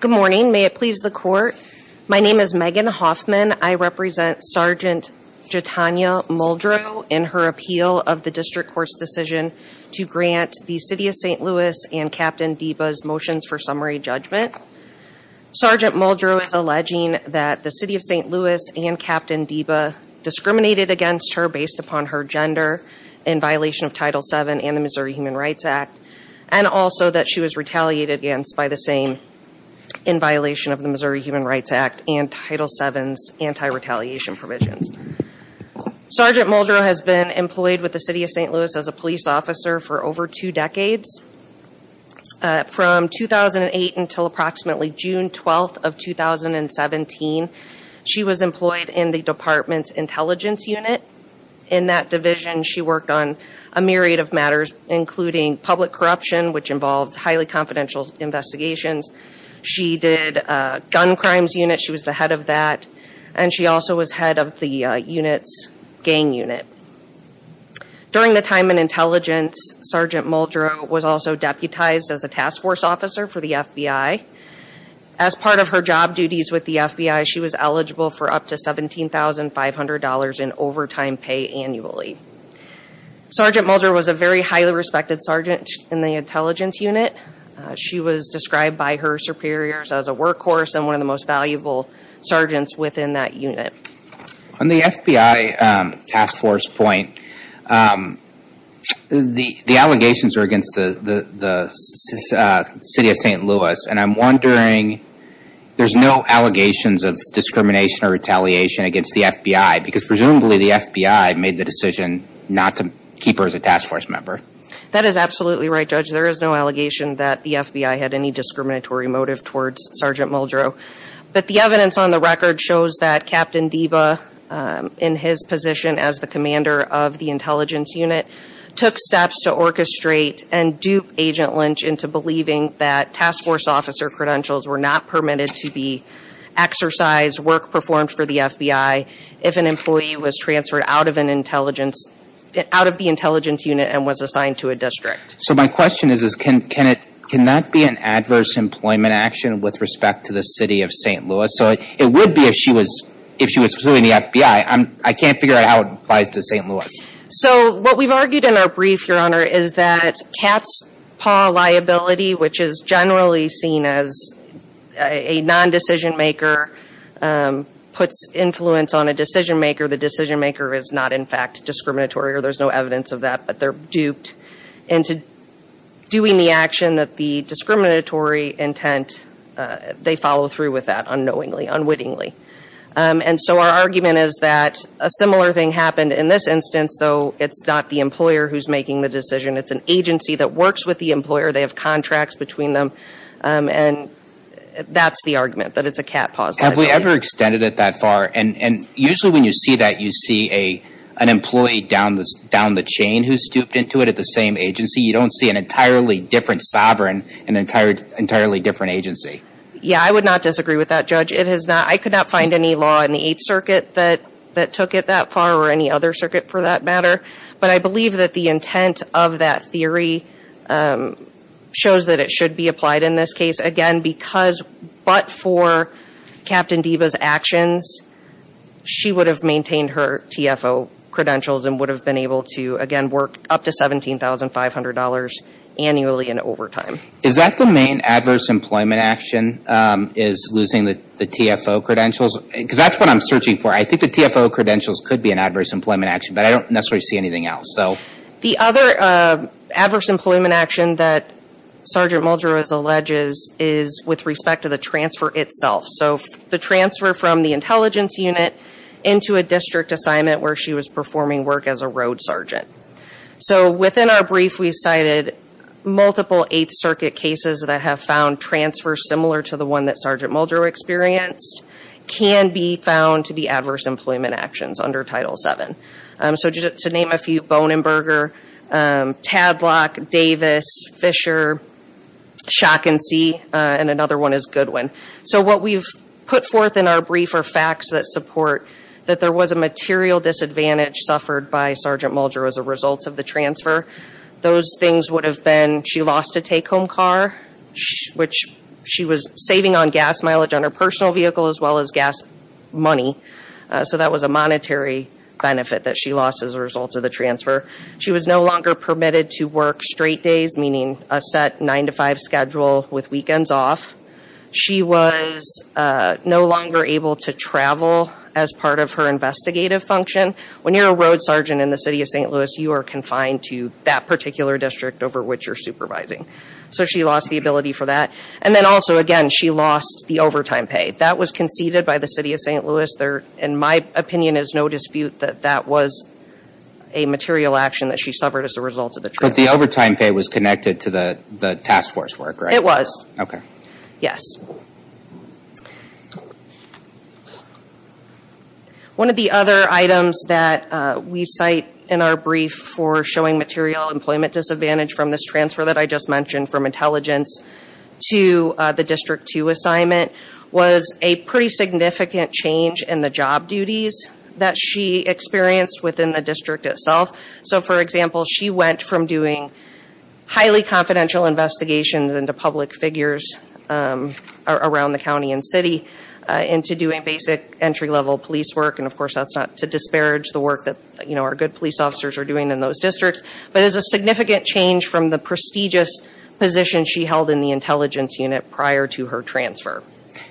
Good morning. May it please the Court. My name is Megan Hoffman. I represent Sgt. Jatonya Muldrow in her appeal of the District Court's decision to grant the City of St. Louis and Capt. Deba's motions for summary judgment. Sgt. Muldrow is alleging that the City of in violation of Title VII and the Missouri Human Rights Act, and also that she was retaliated against by the same in violation of the Missouri Human Rights Act and Title VII's anti-retaliation provisions. Sgt. Muldrow has been employed with the City of St. Louis as a police officer for over two decades. From 2008 until approximately June 12th of 2017, she was employed in the a myriad of matters, including public corruption, which involved highly confidential investigations. She did a gun crimes unit. She was the head of that. And she also was head of the unit's gang unit. During the time in intelligence, Sgt. Muldrow was also deputized as a task force officer for the FBI. As part of her job duties with the FBI, she was eligible for up to $17,500 in overtime pay annually. Sgt. Muldrow was a very highly respected sergeant in the intelligence unit. She was described by her superiors as a workhorse and one of the most valuable sergeants within that unit. On the FBI task force point, the allegations are against the City of St. Louis. And I'm wondering, there's no allegations of presumably the FBI made the decision not to keep her as a task force member. That is absolutely right, Judge. There is no allegation that the FBI had any discriminatory motive towards Sgt. Muldrow. But the evidence on the record shows that Captain Deba, in his position as the commander of the intelligence unit, took steps to orchestrate and dupe Agent Lynch into believing that task force credentials were not permitted to be exercised, work performed for the FBI, if an employee was transferred out of the intelligence unit and was assigned to a district. So my question is, can that be an adverse employment action with respect to the City of St. Louis? So it would be if she was pursuing the FBI. I can't figure out how it applies to St. Louis. So what we've argued in our brief, Your Honor, is that cat's paw liability, which is generally seen as a non-decision maker, puts influence on a decision maker. The decision maker is not, in fact, discriminatory, or there's no evidence of that. But they're duped into doing the action that the discriminatory intent, they follow through with that unknowingly, unwittingly. And so our argument is that a similar thing happened in this instance, though it's not the employer who's making the decision. It's an agency that works with the them. And that's the argument, that it's a cat's paw liability. Have we ever extended it that far? And usually when you see that, you see an employee down the chain who's duped into it at the same agency. You don't see an entirely different sovereign, an entirely different agency. Yeah, I would not disagree with that, Judge. I could not find any law in the Eighth Circuit that took it that far, or any other circuit for that matter. But I believe that the intent of that theory shows that it should be applied in this case, again, because but for Captain Deva's actions, she would have maintained her TFO credentials and would have been able to, again, work up to $17,500 annually in overtime. Is that the main adverse employment action, is losing the TFO credentials? Because that's what I'm searching for. I think the TFO credentials could be an adverse employment action, but I don't necessarily see anything else. The other adverse employment action that Sergeant Muldrow alleges is with respect to the transfer itself. So the transfer from the intelligence unit into a district assignment where she was performing work as a road sergeant. So within our brief, we cited multiple Eighth Circuit cases that have found transfer similar to the one that Sergeant Muldrow experienced can be found to be adverse employment actions under Title VII. So just to name a few, Bonenberger, Tadlock, Davis, Fisher, Schock and See, and another one is Goodwin. So what we've put forth in our brief are facts that support that there was a material disadvantage suffered by Sergeant Muldrow as a result of the saving on gas mileage on her personal vehicle as well as gas money. So that was a monetary benefit that she lost as a result of the transfer. She was no longer permitted to work straight days, meaning a set nine-to-five schedule with weekends off. She was no longer able to travel as part of her investigative function. When you're a road sergeant in the city of St. Louis, you are confined to that particular district over which you're supervising. So she lost the ability for that. And then also, again, she lost the overtime pay. That was conceded by the city of St. Louis. In my opinion, there's no dispute that that was a material action that she suffered as a result of the transfer. But the overtime pay was connected to the task force work, right? It was. Okay. Yes. One of the other items that we cite in our brief for showing material employment disadvantage from this transfer that I just mentioned from intelligence to the district two assignment was a pretty significant change in the job duties that she experienced within the district itself. So for example, she went from doing highly confidential investigations into public figures around the county and city into doing basic entry-level police work. And of course, that's not to disparage the work that our good police officers are doing in those districts. But it's a significant change from the prestigious position she held in the intelligence unit prior to her transfer.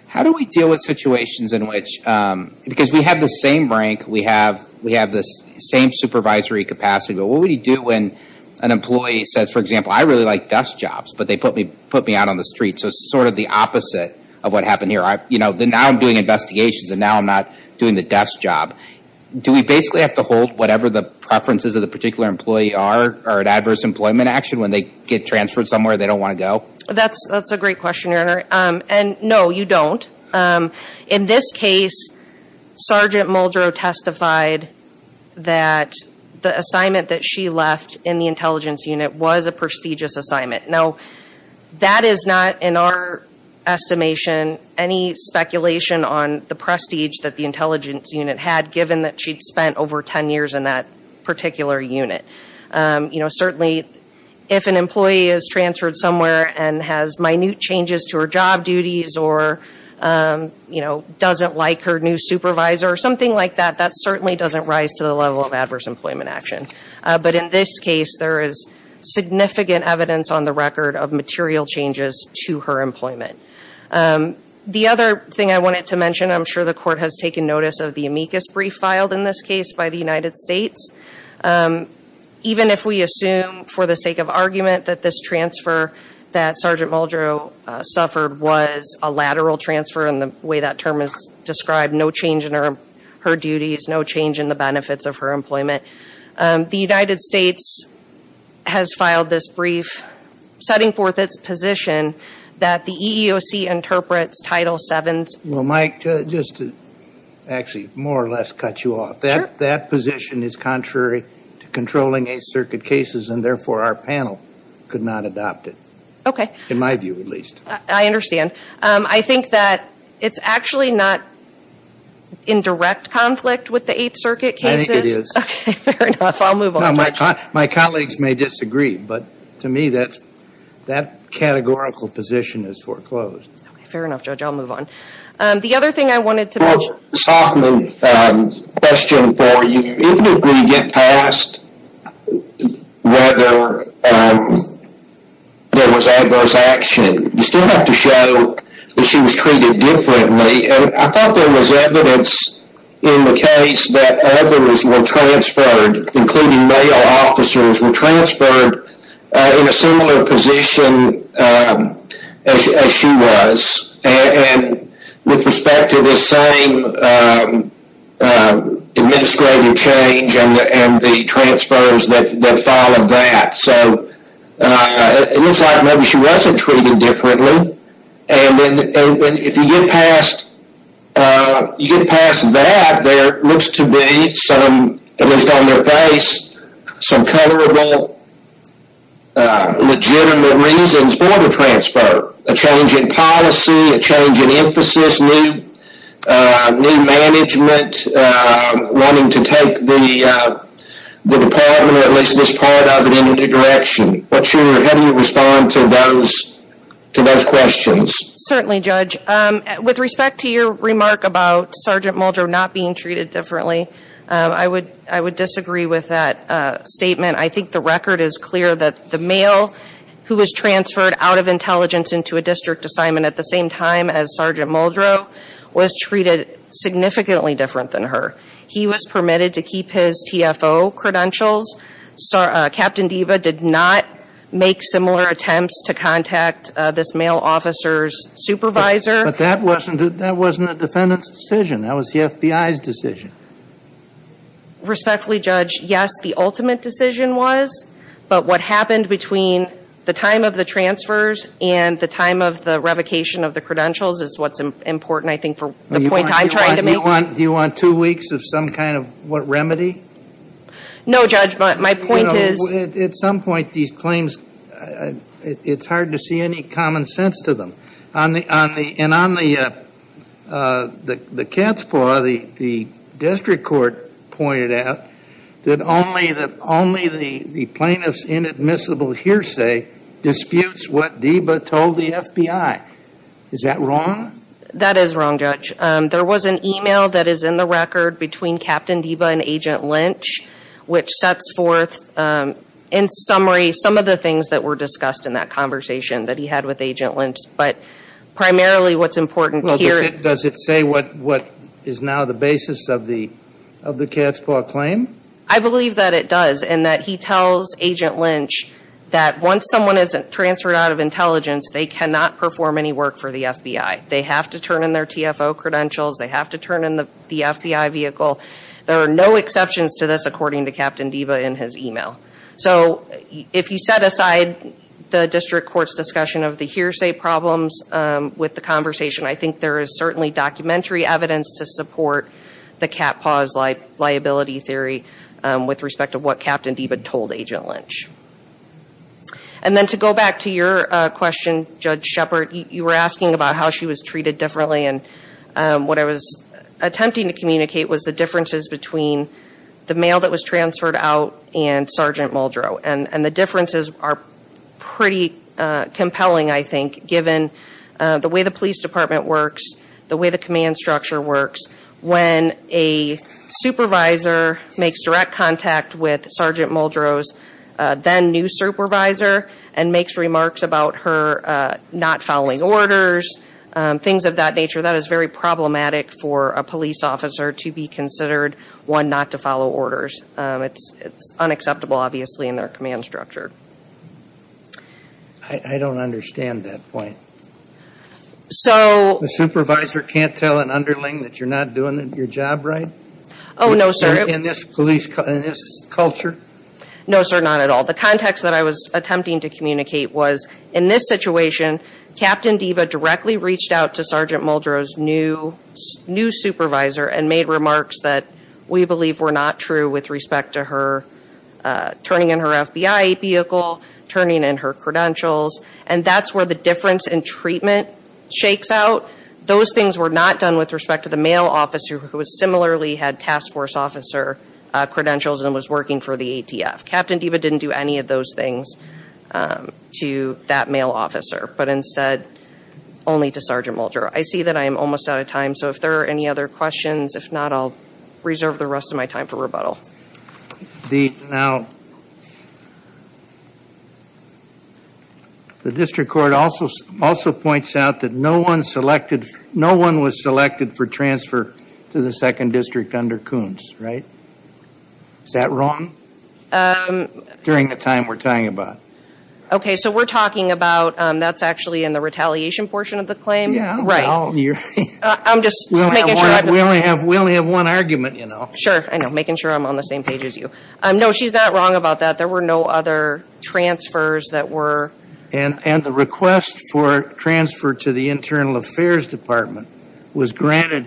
How do we deal with situations in which, because we have the same rank, we have the same supervisory capacity, but what would you do when an employee says, for example, I really like desk jobs, but they put me out on the street. So it's sort of the opposite of what happened here. Now I'm doing investigations and now I'm not doing the desk job. Do we basically have to hold whatever the preferences of the particular employee are at adverse employment action when they get transferred somewhere they don't want to go? That's a great question, your honor. And no, you don't. In this case, Sergeant Muldrow testified that the assignment that she left in the intelligence unit was a prestigious assignment. Now that is not in our estimation any speculation on the prestige that the intelligence unit had given that she'd spent over 10 years in that particular unit. Certainly, if an employee is transferred somewhere and has minute changes to her job duties or doesn't like her new supervisor or something like that, that certainly doesn't rise to the level of adverse employment action. But in this case, there is significant evidence on the record of material changes to her employment. The other thing I wanted to mention, I'm sure the court has taken notice of the amicus brief filed in this case by the United States. Even if we assume for the sake of argument that this transfer that Sergeant Muldrow suffered was a lateral transfer in the way that term is described, no change in her duties, no change in the benefits of her employment, the United States has filed this brief setting forth its position that the EEOC interprets Title VII. Well, Mike, just to actually more or less cut you off. Sure. That position is contrary to controlling Eighth Circuit cases and therefore our panel could not adopt it. Okay. In my view, at least. I understand. I think that it's actually not in direct conflict with the Eighth Circuit cases. I think it is. Okay, fair enough. I'll move on, Judge. No, my colleagues may disagree, but to me, that categorical position is foreclosed. Fair enough, Judge. I'll move on. The other thing I wanted to mention. Ms. Hoffman, question for you. Even if we get past whether there was adverse action, you still have to show that she was treated differently. I thought there was evidence in the case that others were transferred, including male officers were transferred in a similar position as she was. With respect to the same administrative change and the transfers that followed that. It looks like maybe she wasn't treated differently. If you get past that, there looks to be some, at least on their face, some colorable, legitimate reasons for the transfer. A change in policy, a change in emphasis, new management, wanting to take the department, or at least this part of it, in a new direction. How do you respond to those questions? Certainly, Judge. With respect to your with that statement, I think the record is clear that the male who was transferred out of intelligence into a district assignment at the same time as Sergeant Muldrow was treated significantly different than her. He was permitted to keep his TFO credentials. Captain Deva did not make similar attempts to contact this male officer's supervisor. But that wasn't the defendant's FBI's decision. Respectfully, Judge, yes, the ultimate decision was. But what happened between the time of the transfers and the time of the revocation of the credentials is what's important, I think, for the point I'm trying to make. Do you want two weeks of some kind of what remedy? No, Judge, but my point is. At some point, these claims, it's hard to see any common to them. And on the cat's paw, the district court pointed out that only the plaintiff's inadmissible hearsay disputes what Deva told the FBI. Is that wrong? That is wrong, Judge. There was an email that is in the record between Captain Deva and Agent Lynch, which sets forth, in summary, some of the things that were discussed in that conversation that he had with Agent Lynch. But primarily what's important here. Does it say what is now the basis of the cat's paw claim? I believe that it does. And that he tells Agent Lynch that once someone is transferred out of intelligence, they cannot perform any work for the FBI. They have to turn in their TFO credentials. They have to turn in the FBI vehicle. There are no exceptions to this, according to Captain Deva in his email. So if you set aside the district court's discussion of the hearsay problems with the conversation, I think there is certainly documentary evidence to support the cat paw's liability theory with respect to what Captain Deva told Agent Lynch. And then to go back to your question, Judge Shepard, you were asking about how she was treated differently. And what I was attempting to communicate was the differences between the male that was transferred out and Sergeant Muldrow. And the differences are pretty compelling, I think, given the way the police department works, the way the command structure works. When a supervisor makes direct contact with Sergeant Muldrow's then new supervisor and makes remarks about her not following orders, things of that nature, that is very problematic for a police officer to be considered one not to follow orders. It's unacceptable, obviously, in their command structure. I don't understand that point. The supervisor can't tell an underling that you're not doing your job right? Oh, no, sir. In this police culture? No, sir, not at all. The context that I was attempting to communicate was, in this situation, Captain Deva directly reached out to Sergeant Muldrow's new supervisor and made remarks that we believe were not true with respect to her turning in her FBI vehicle, turning in her credentials. And that's where the difference in treatment shakes out. Those things were not done with respect to the male officer who similarly had task force officer credentials and was working for the ATF. Captain Deva didn't do any of those things to that male officer, but instead only to Sergeant Muldrow. I see that I'm almost out of time, so if there are any other questions, if not, I'll reserve the rest of my time for rebuttal. The district court also points out that no one was selected for transfer to the Department of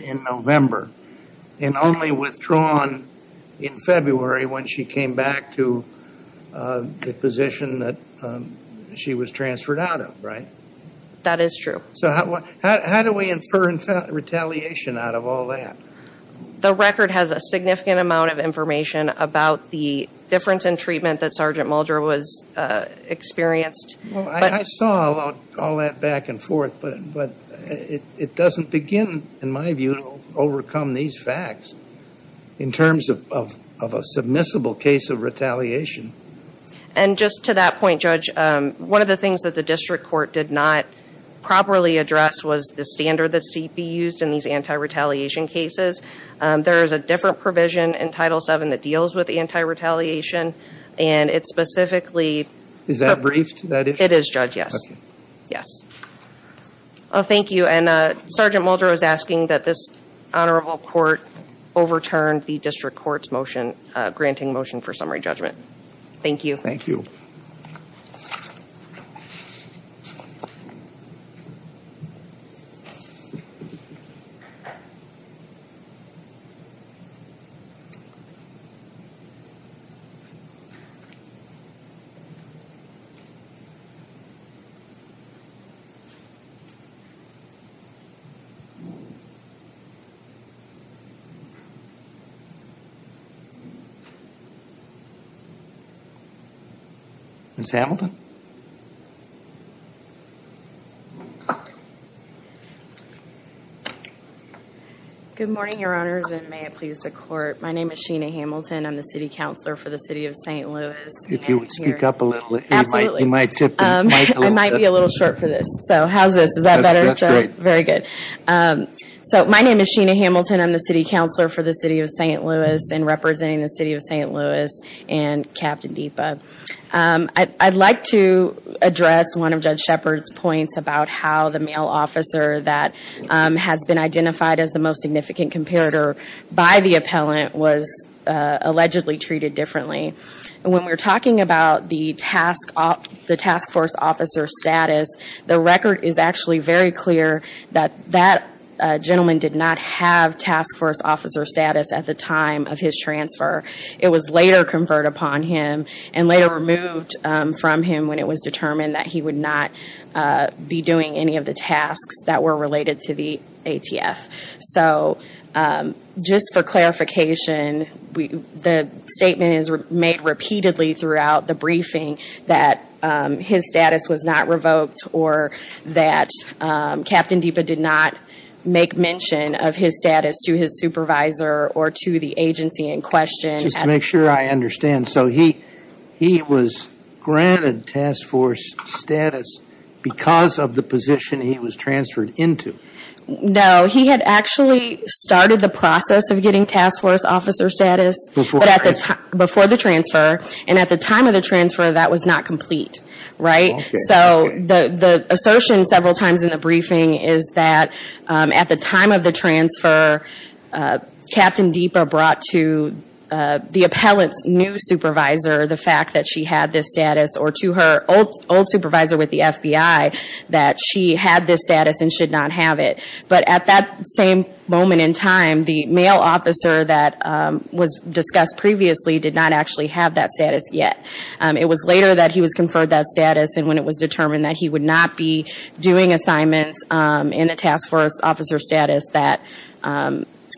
Internal Affairs, and only withdrawn in February when she came back to the position that she was transferred out of, right? That is true. So how do we infer retaliation out of all that? The record has a significant amount of information about the difference in treatment that Sergeant Muldrow was experienced. Well, I saw all that back and forth, but it doesn't begin, in my view, to overcome these facts in terms of a submissible case of retaliation. And just to that point, Judge, one of the things that the district court did not properly address was the standard that CP used in these anti-retaliation cases. There is a different provision in Title VII that deals with anti-retaliation, and it specifically... Is that briefed, that issue? It is, Judge, yes. Okay. Yes. Oh, thank you. And Sergeant Muldrow is asking that this honorable court overturn the district court's motion, granting motion for summary judgment. Thank you. Thank you. Ms. Hamilton? Good morning, Your Honors, and may it please the court. My name is Sheena Hamilton. I'm the City Counselor for the City of St. Louis. If you would speak up a little, you might tip the mic a little bit. I might be a little short for this. So how's this? Is that better? That's great. Very good. So my name is Sheena Hamilton. I'm the City Counselor for the City of St. Louis and representing the City of St. Louis and Captain Deepa. I'd like to address one of Judge Shepard's points about how the male officer that has been identified as the most significant comparator by the appellant was allegedly treated differently. And when we're talking about the task force officer status, the record is actually very clear that that gentleman did not have task force officer status at the time of his transfer. It was later conferred upon him and later removed from him when it was determined that he would not be doing any of the tasks that were related to the ATF. So just for clarification, the statement is made repeatedly throughout the briefing that his status was not revoked or that Captain Deepa did not make mention of his status to his supervisor or to the agency in question. Just to make sure I understand, so he was granted task force status because of the position he was transferred into? No, he had actually started the process of getting task force officer status before the transfer, and at the time of the transfer, that was not complete, right? So the assertion several times in the briefing is that at the time of the transfer, Captain Deepa brought to the appellant's new supervisor the fact that she had this status or to her old supervisor with the FBI that she had this status and should not have it. But at that same moment in time, the male officer that was discussed previously did not actually have that status yet. It was later that he was conferred that status, and when it was determined that he would not be doing assignments in the task force officer status, that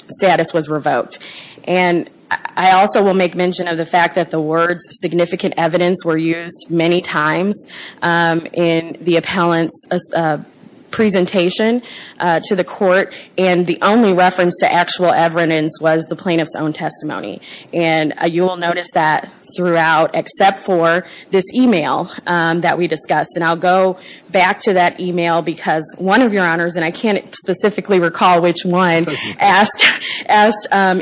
status was revoked. And I also will make mention of the fact that the words significant evidence were used many times in the appellant's presentation to the court, and the only reference to actual evidence was the plaintiff's own testimony. And you will notice that throughout, except for this email that we discussed. And I'll go back to that email because one of your honors, and I can't specifically recall which one, asked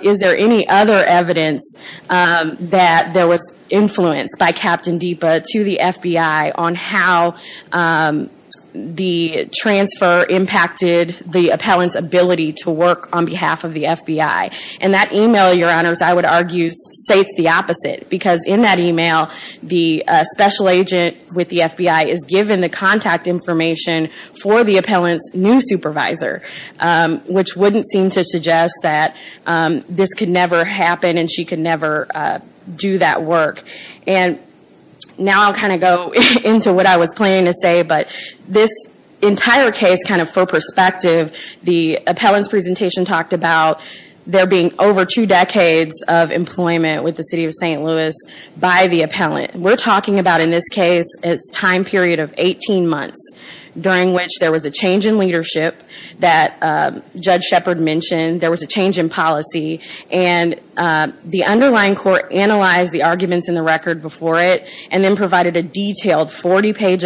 is there any other evidence that there was influence by Captain Deepa to the FBI on how the transfer impacted the appellant's ability to work on behalf of the FBI. And that email, your honors, I would argue states the opposite. Because in that email, the special agent with the FBI is given the contact information for the appellant's new supervisor, which wouldn't seem to suggest that this could never happen and she could never do that work. And now I'll kind of go into what I was planning to say, but this entire case kind of for perspective, the appellant's presentation talked about there being over two decades of employment with the city of St. Louis by the appellant. We're talking about in this case a time period of 18 months during which there was a change in leadership that Judge Shepard mentioned, there was a change in policy, and the underlying court analyzed the arguments in the record before it and then provided a detailed 40 failed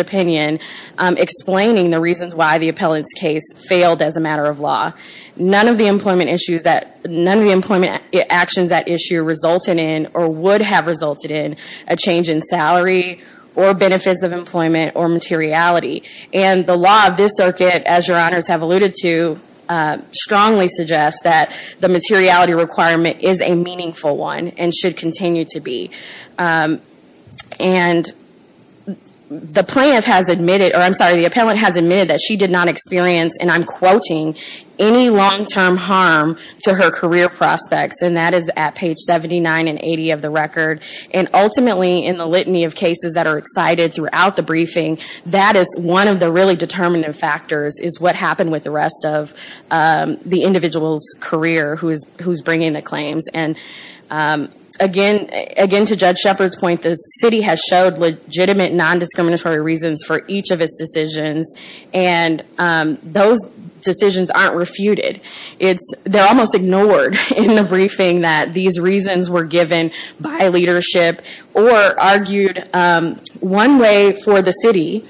as a matter of law. None of the employment actions at issue resulted in or would have resulted in a change in salary or benefits of employment or materiality. And the law of this circuit, as your honors have alluded to, strongly suggests that the materiality requirement is a meaningful one and should continue to be. And the plaintiff has admitted, or I'm sorry, the appellant has admitted that she did not experience, and I'm quoting, any long-term harm to her career prospects. And that is at page 79 and 80 of the record. And ultimately, in the litany of cases that are excited throughout the briefing, that is one of the really determinative factors is what happened with the rest of the individual's career who's bringing the claims. And again, to Judge Shepard's point, the city has showed legitimate non-discriminatory reasons for each of its decisions, and those decisions aren't refuted. They're almost ignored in the briefing that these reasons were given by leadership or argued one way for the city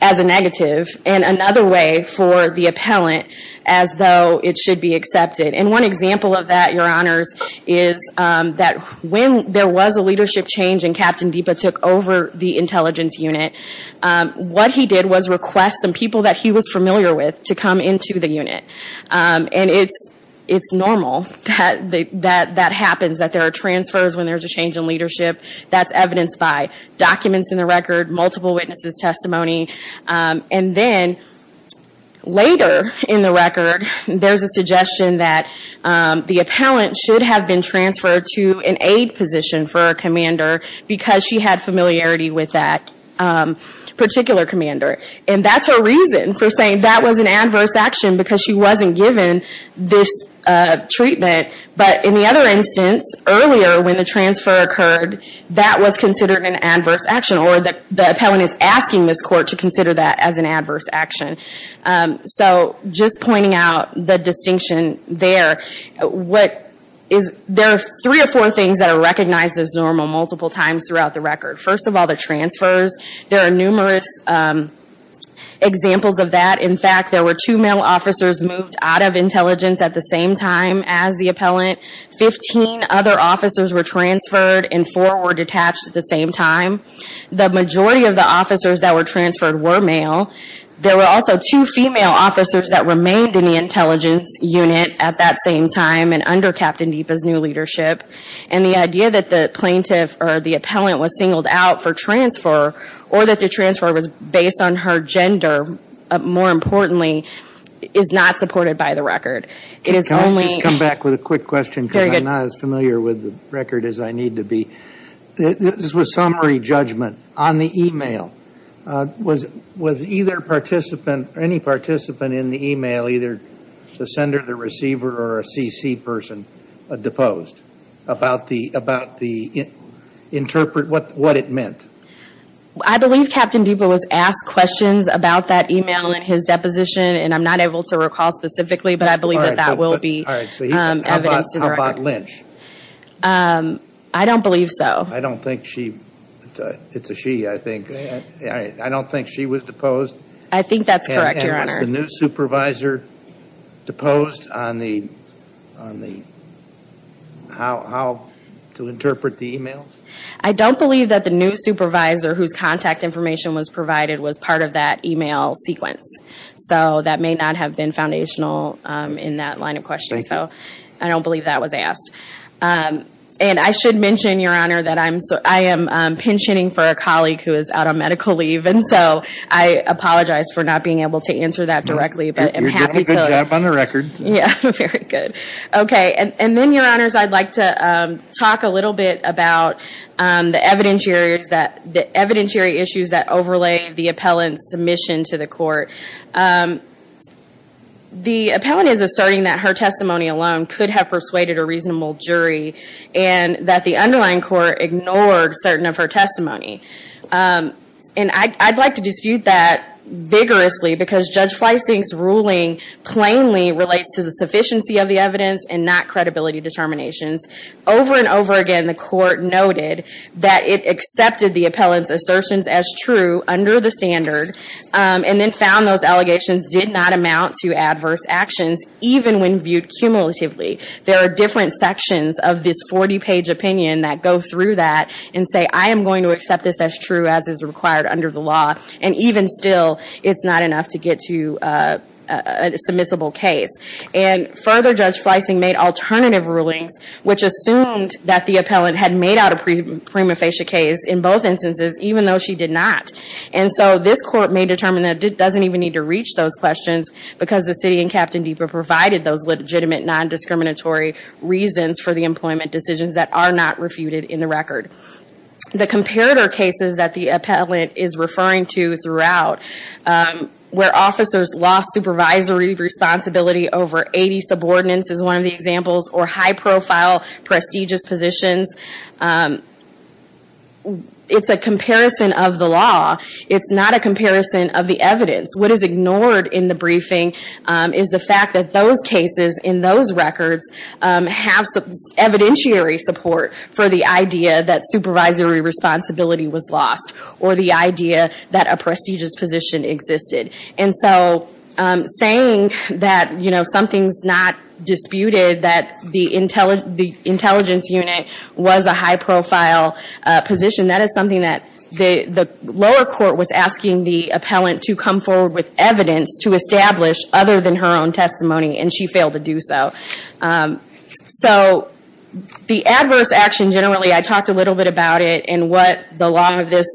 as a negative and another way for the appellant as though it should be accepted. And one example of that, your honors, is that when there was a leadership change and Captain Deepa took over the intelligence unit, what he did was request some people that he was familiar with to come into the unit. And it's normal that that happens, that there are transfers when there's a change in leadership. That's evidenced by documents in the record, multiple witnesses' testimony. And then, later in the record, there's a suggestion that the appellant should have been transferred to an aid position for a commander because she had familiarity with that particular commander. And that's her reason for saying that was an adverse action because she wasn't given this treatment. But in the other instance, earlier when the transfer occurred, that was considered an adverse action. So just pointing out the distinction there, there are three or four things that are recognized as normal multiple times throughout the record. First of all, the transfers. There are numerous examples of that. In fact, there were two male officers moved out of intelligence at the same time as the appellant. Fifteen other officers were transferred and four were detached at the same time. The majority of the officers that were transferred were male. There were also two female officers that remained in the intelligence unit at that same time and under Captain Deepa's new leadership. And the idea that the plaintiff or the appellant was singled out for transfer or that the transfer was based on her gender, more importantly, is not supported by the record. It is only- Can I just come back with a quick question because I'm not as familiar with the record as I need to be? This was summary judgment on the email. Was either participant or any participant in the email, either the sender, the receiver, or a CC person, deposed? What it meant? I believe Captain Deepa was asked questions about that email in his deposition and I'm not able to recall specifically, but I believe that that will be evidence to the record. All right, so how about Lynch? Um, I don't believe so. I don't think she, it's a she, I think. I don't think she was deposed. I think that's correct, Your Honor. And was the new supervisor deposed on the, on the, how, how to interpret the emails? I don't believe that the new supervisor whose contact information was provided was part of that email sequence. So that may not have been foundational in that line of questioning, so I don't believe that was asked. And I should mention, Your Honor, that I'm, I am pensioning for a colleague who is out on medical leave, and so I apologize for not being able to answer that directly, but I'm happy to. You're doing a good job on the record. Yeah, very good. Okay, and then, Your Honors, I'd like to talk a little bit about the evidence areas that, the evidence area issues that overlay the appellant's submission to the court. The appellant is asserting that her testimony alone could have persuaded a reasonable jury and that the underlying court ignored certain of her testimony. And I, I'd like to dispute that vigorously because Judge Fleissing's ruling plainly relates to the sufficiency of the evidence and not credibility determinations. Over and over again, the court noted that it accepted the appellant's assertions as under the standard, and then found those allegations did not amount to adverse actions, even when viewed cumulatively. There are different sections of this 40-page opinion that go through that and say, I am going to accept this as true as is required under the law, and even still, it's not enough to get to a submissible case. And further, Judge Fleissing made alternative rulings, which assumed that the appellant had made out a prima facie case in both instances, even though she did not. And so, this court may determine that it doesn't even need to reach those questions because the city and Captain Deeper provided those legitimate non-discriminatory reasons for the employment decisions that are not refuted in the record. The comparator cases that the appellant is referring to throughout, where officers lost supervisory responsibility over 80 subordinates, is one of the examples, or high-profile prestigious positions. It's a comparison of the law. It's not a comparison of the evidence. What is ignored in the briefing is the fact that those cases, in those records, have some evidentiary support for the idea that supervisory responsibility was lost, or the idea that a prestigious position existed. And so, saying that something's not disputed, that the intelligence unit was a high-profile position, that is something that the lower court was asking the appellant to come forward with evidence to establish, other than her own testimony, and she failed to do so. So, the adverse action, generally, I talked a little bit about it in what the law of this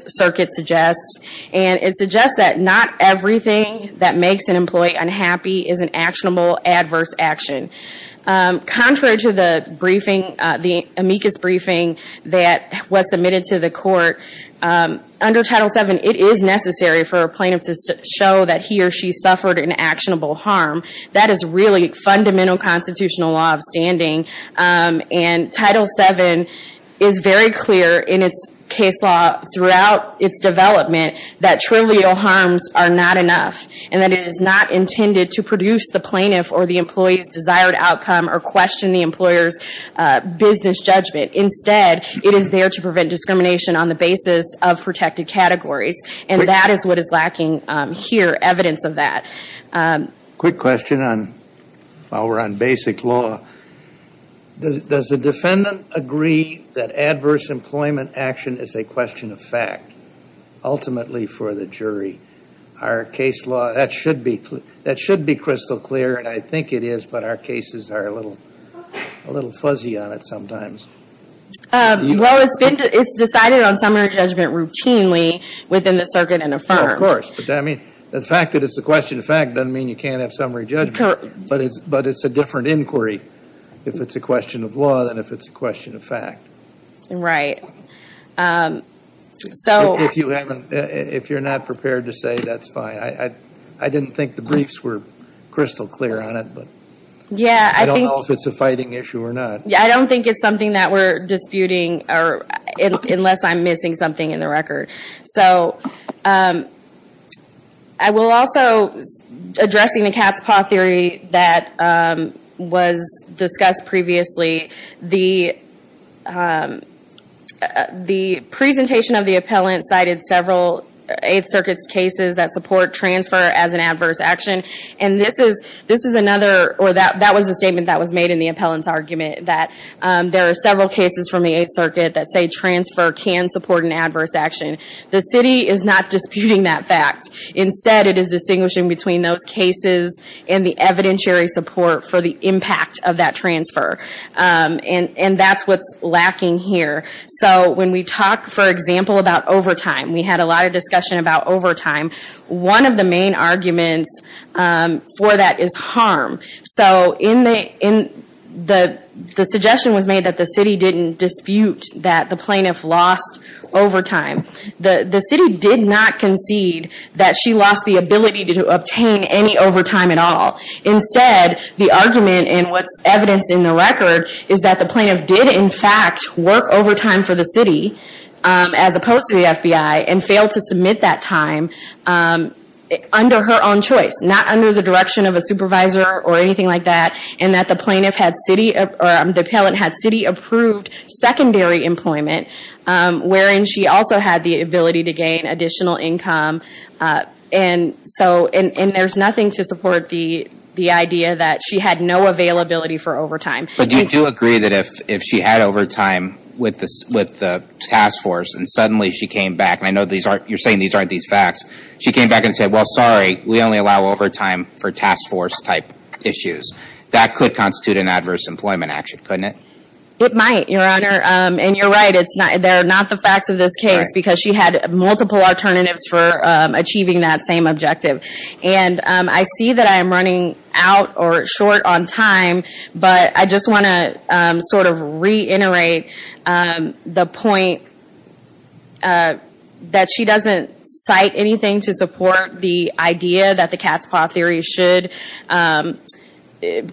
thing, that makes an employee unhappy, is an actionable adverse action. Contrary to the amicus briefing that was submitted to the court, under Title VII, it is necessary for a plaintiff to show that he or she suffered an actionable harm. That is really fundamental constitutional law of standing, and Title VII is very clear, in its case law, throughout its development, that trivial harms are not enough, and that it is not intended to produce the plaintiff or the employee's desired outcome, or question the employer's business judgment. Instead, it is there to prevent discrimination on the basis of protected categories, and that is what is lacking here, evidence of that. Quick question, while we're on basic law. Does the defendant agree that adverse employment action is a question of fact, ultimately, for the jury? Our case law, that should be crystal clear, and I think it is, but our cases are a little fuzzy on it sometimes. Well, it's decided on summary judgment routinely within the circuit and affirmed. Of course, but the fact that it's a question of fact doesn't mean you can't have summary judgment inquiry. If it's a question of law, then if it's a question of fact. Right. If you're not prepared to say, that's fine. I didn't think the briefs were crystal clear on it, but I don't know if it's a fighting issue or not. I don't think it's something that we're disputing, unless I'm missing something in the record. I will also, addressing the cat's paw theory that was discussed previously, the presentation of the appellant cited several Eighth Circuit's cases that support transfer as an adverse action, and this is another, or that was a statement that was made in the appellant's argument, that there are several cases from the Eighth Circuit that say transfer can support an adverse action. The city is not disputing that fact. Instead, it is distinguishing between those cases and the evidentiary support for the impact of that transfer, and that's what's lacking here. When we talk, for example, about overtime, we had a lot of discussion about overtime. One of the main arguments for that is harm. The suggestion was made that the city didn't dispute that the plaintiff lost overtime. The city did not concede that she lost the ability to obtain any overtime at all. Instead, the argument, and what's evidenced in the record, is that the plaintiff did, in fact, work overtime for the city, as opposed to the FBI, and failed to submit that time under her own choice, not under the direction of a supervisor or anything like that, and that the plaintiff had city, or the appellant had city-approved secondary employment, wherein she also had the ability to gain additional income. There's nothing to support the idea that she had no availability for overtime. But you do agree that if she had overtime with the task force, and suddenly she came back, and I know you're saying these aren't these facts, she came back and said, well, sorry, we only allow overtime for task force-type issues. That could constitute an adverse employment action, couldn't it? It might, your honor, and you're right, they're not the facts of this case, because she had multiple alternatives for achieving that same objective. I see that I am running out or short on time, but I just want to reiterate the point that she doesn't cite anything to support the idea that the cat's paw theory should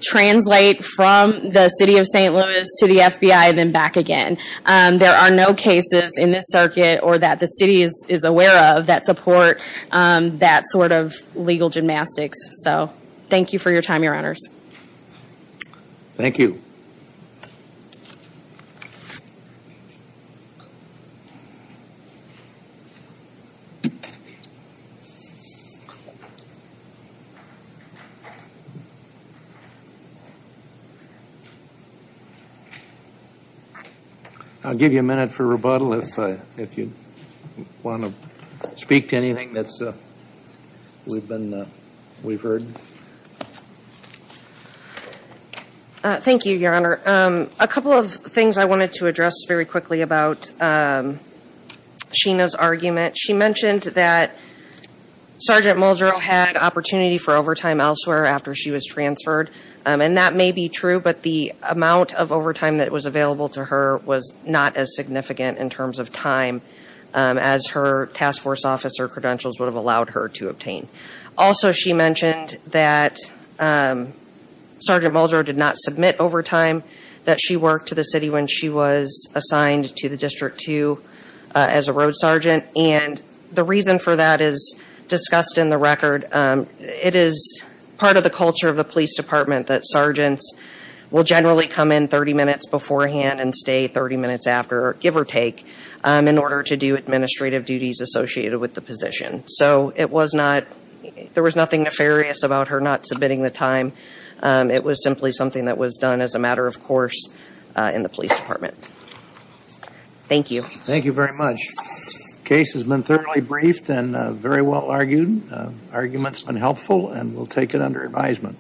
translate from the city of St. Louis to the FBI, then back again. There are no cases in this circuit, or that the city is aware of, that support that sort of legal gymnastics, so thank you for your time, your honors. Thank you. I'll give you a minute for rebuttal if you want to speak to anything that we've heard. Thank you, your honor. A couple of things I wanted to address very quickly about Sheena's argument. She mentioned that Sergeant Muldrow had opportunity for overtime elsewhere after she was transferred, and that may be true, but the amount of overtime that was available to her was not as significant in terms of time as her task force officer credentials would have allowed her to obtain. Also, she mentioned that Sergeant Muldrow did not submit overtime that she worked to the city when she was assigned to the District 2 as a road sergeant, and the reason for that is discussed in the record. It is part of the culture of the police department that sergeants will generally come in 30 minutes beforehand and stay 30 minutes after, give or take, in order to do administrative duties associated with the position. So it was not, there was nothing nefarious about her not submitting the time. It was simply something that was done as a matter of course in the police department. Thank you. Thank you very much. The case has been thoroughly briefed and very well argued. Arguments have been helpful and we'll take it under advisement.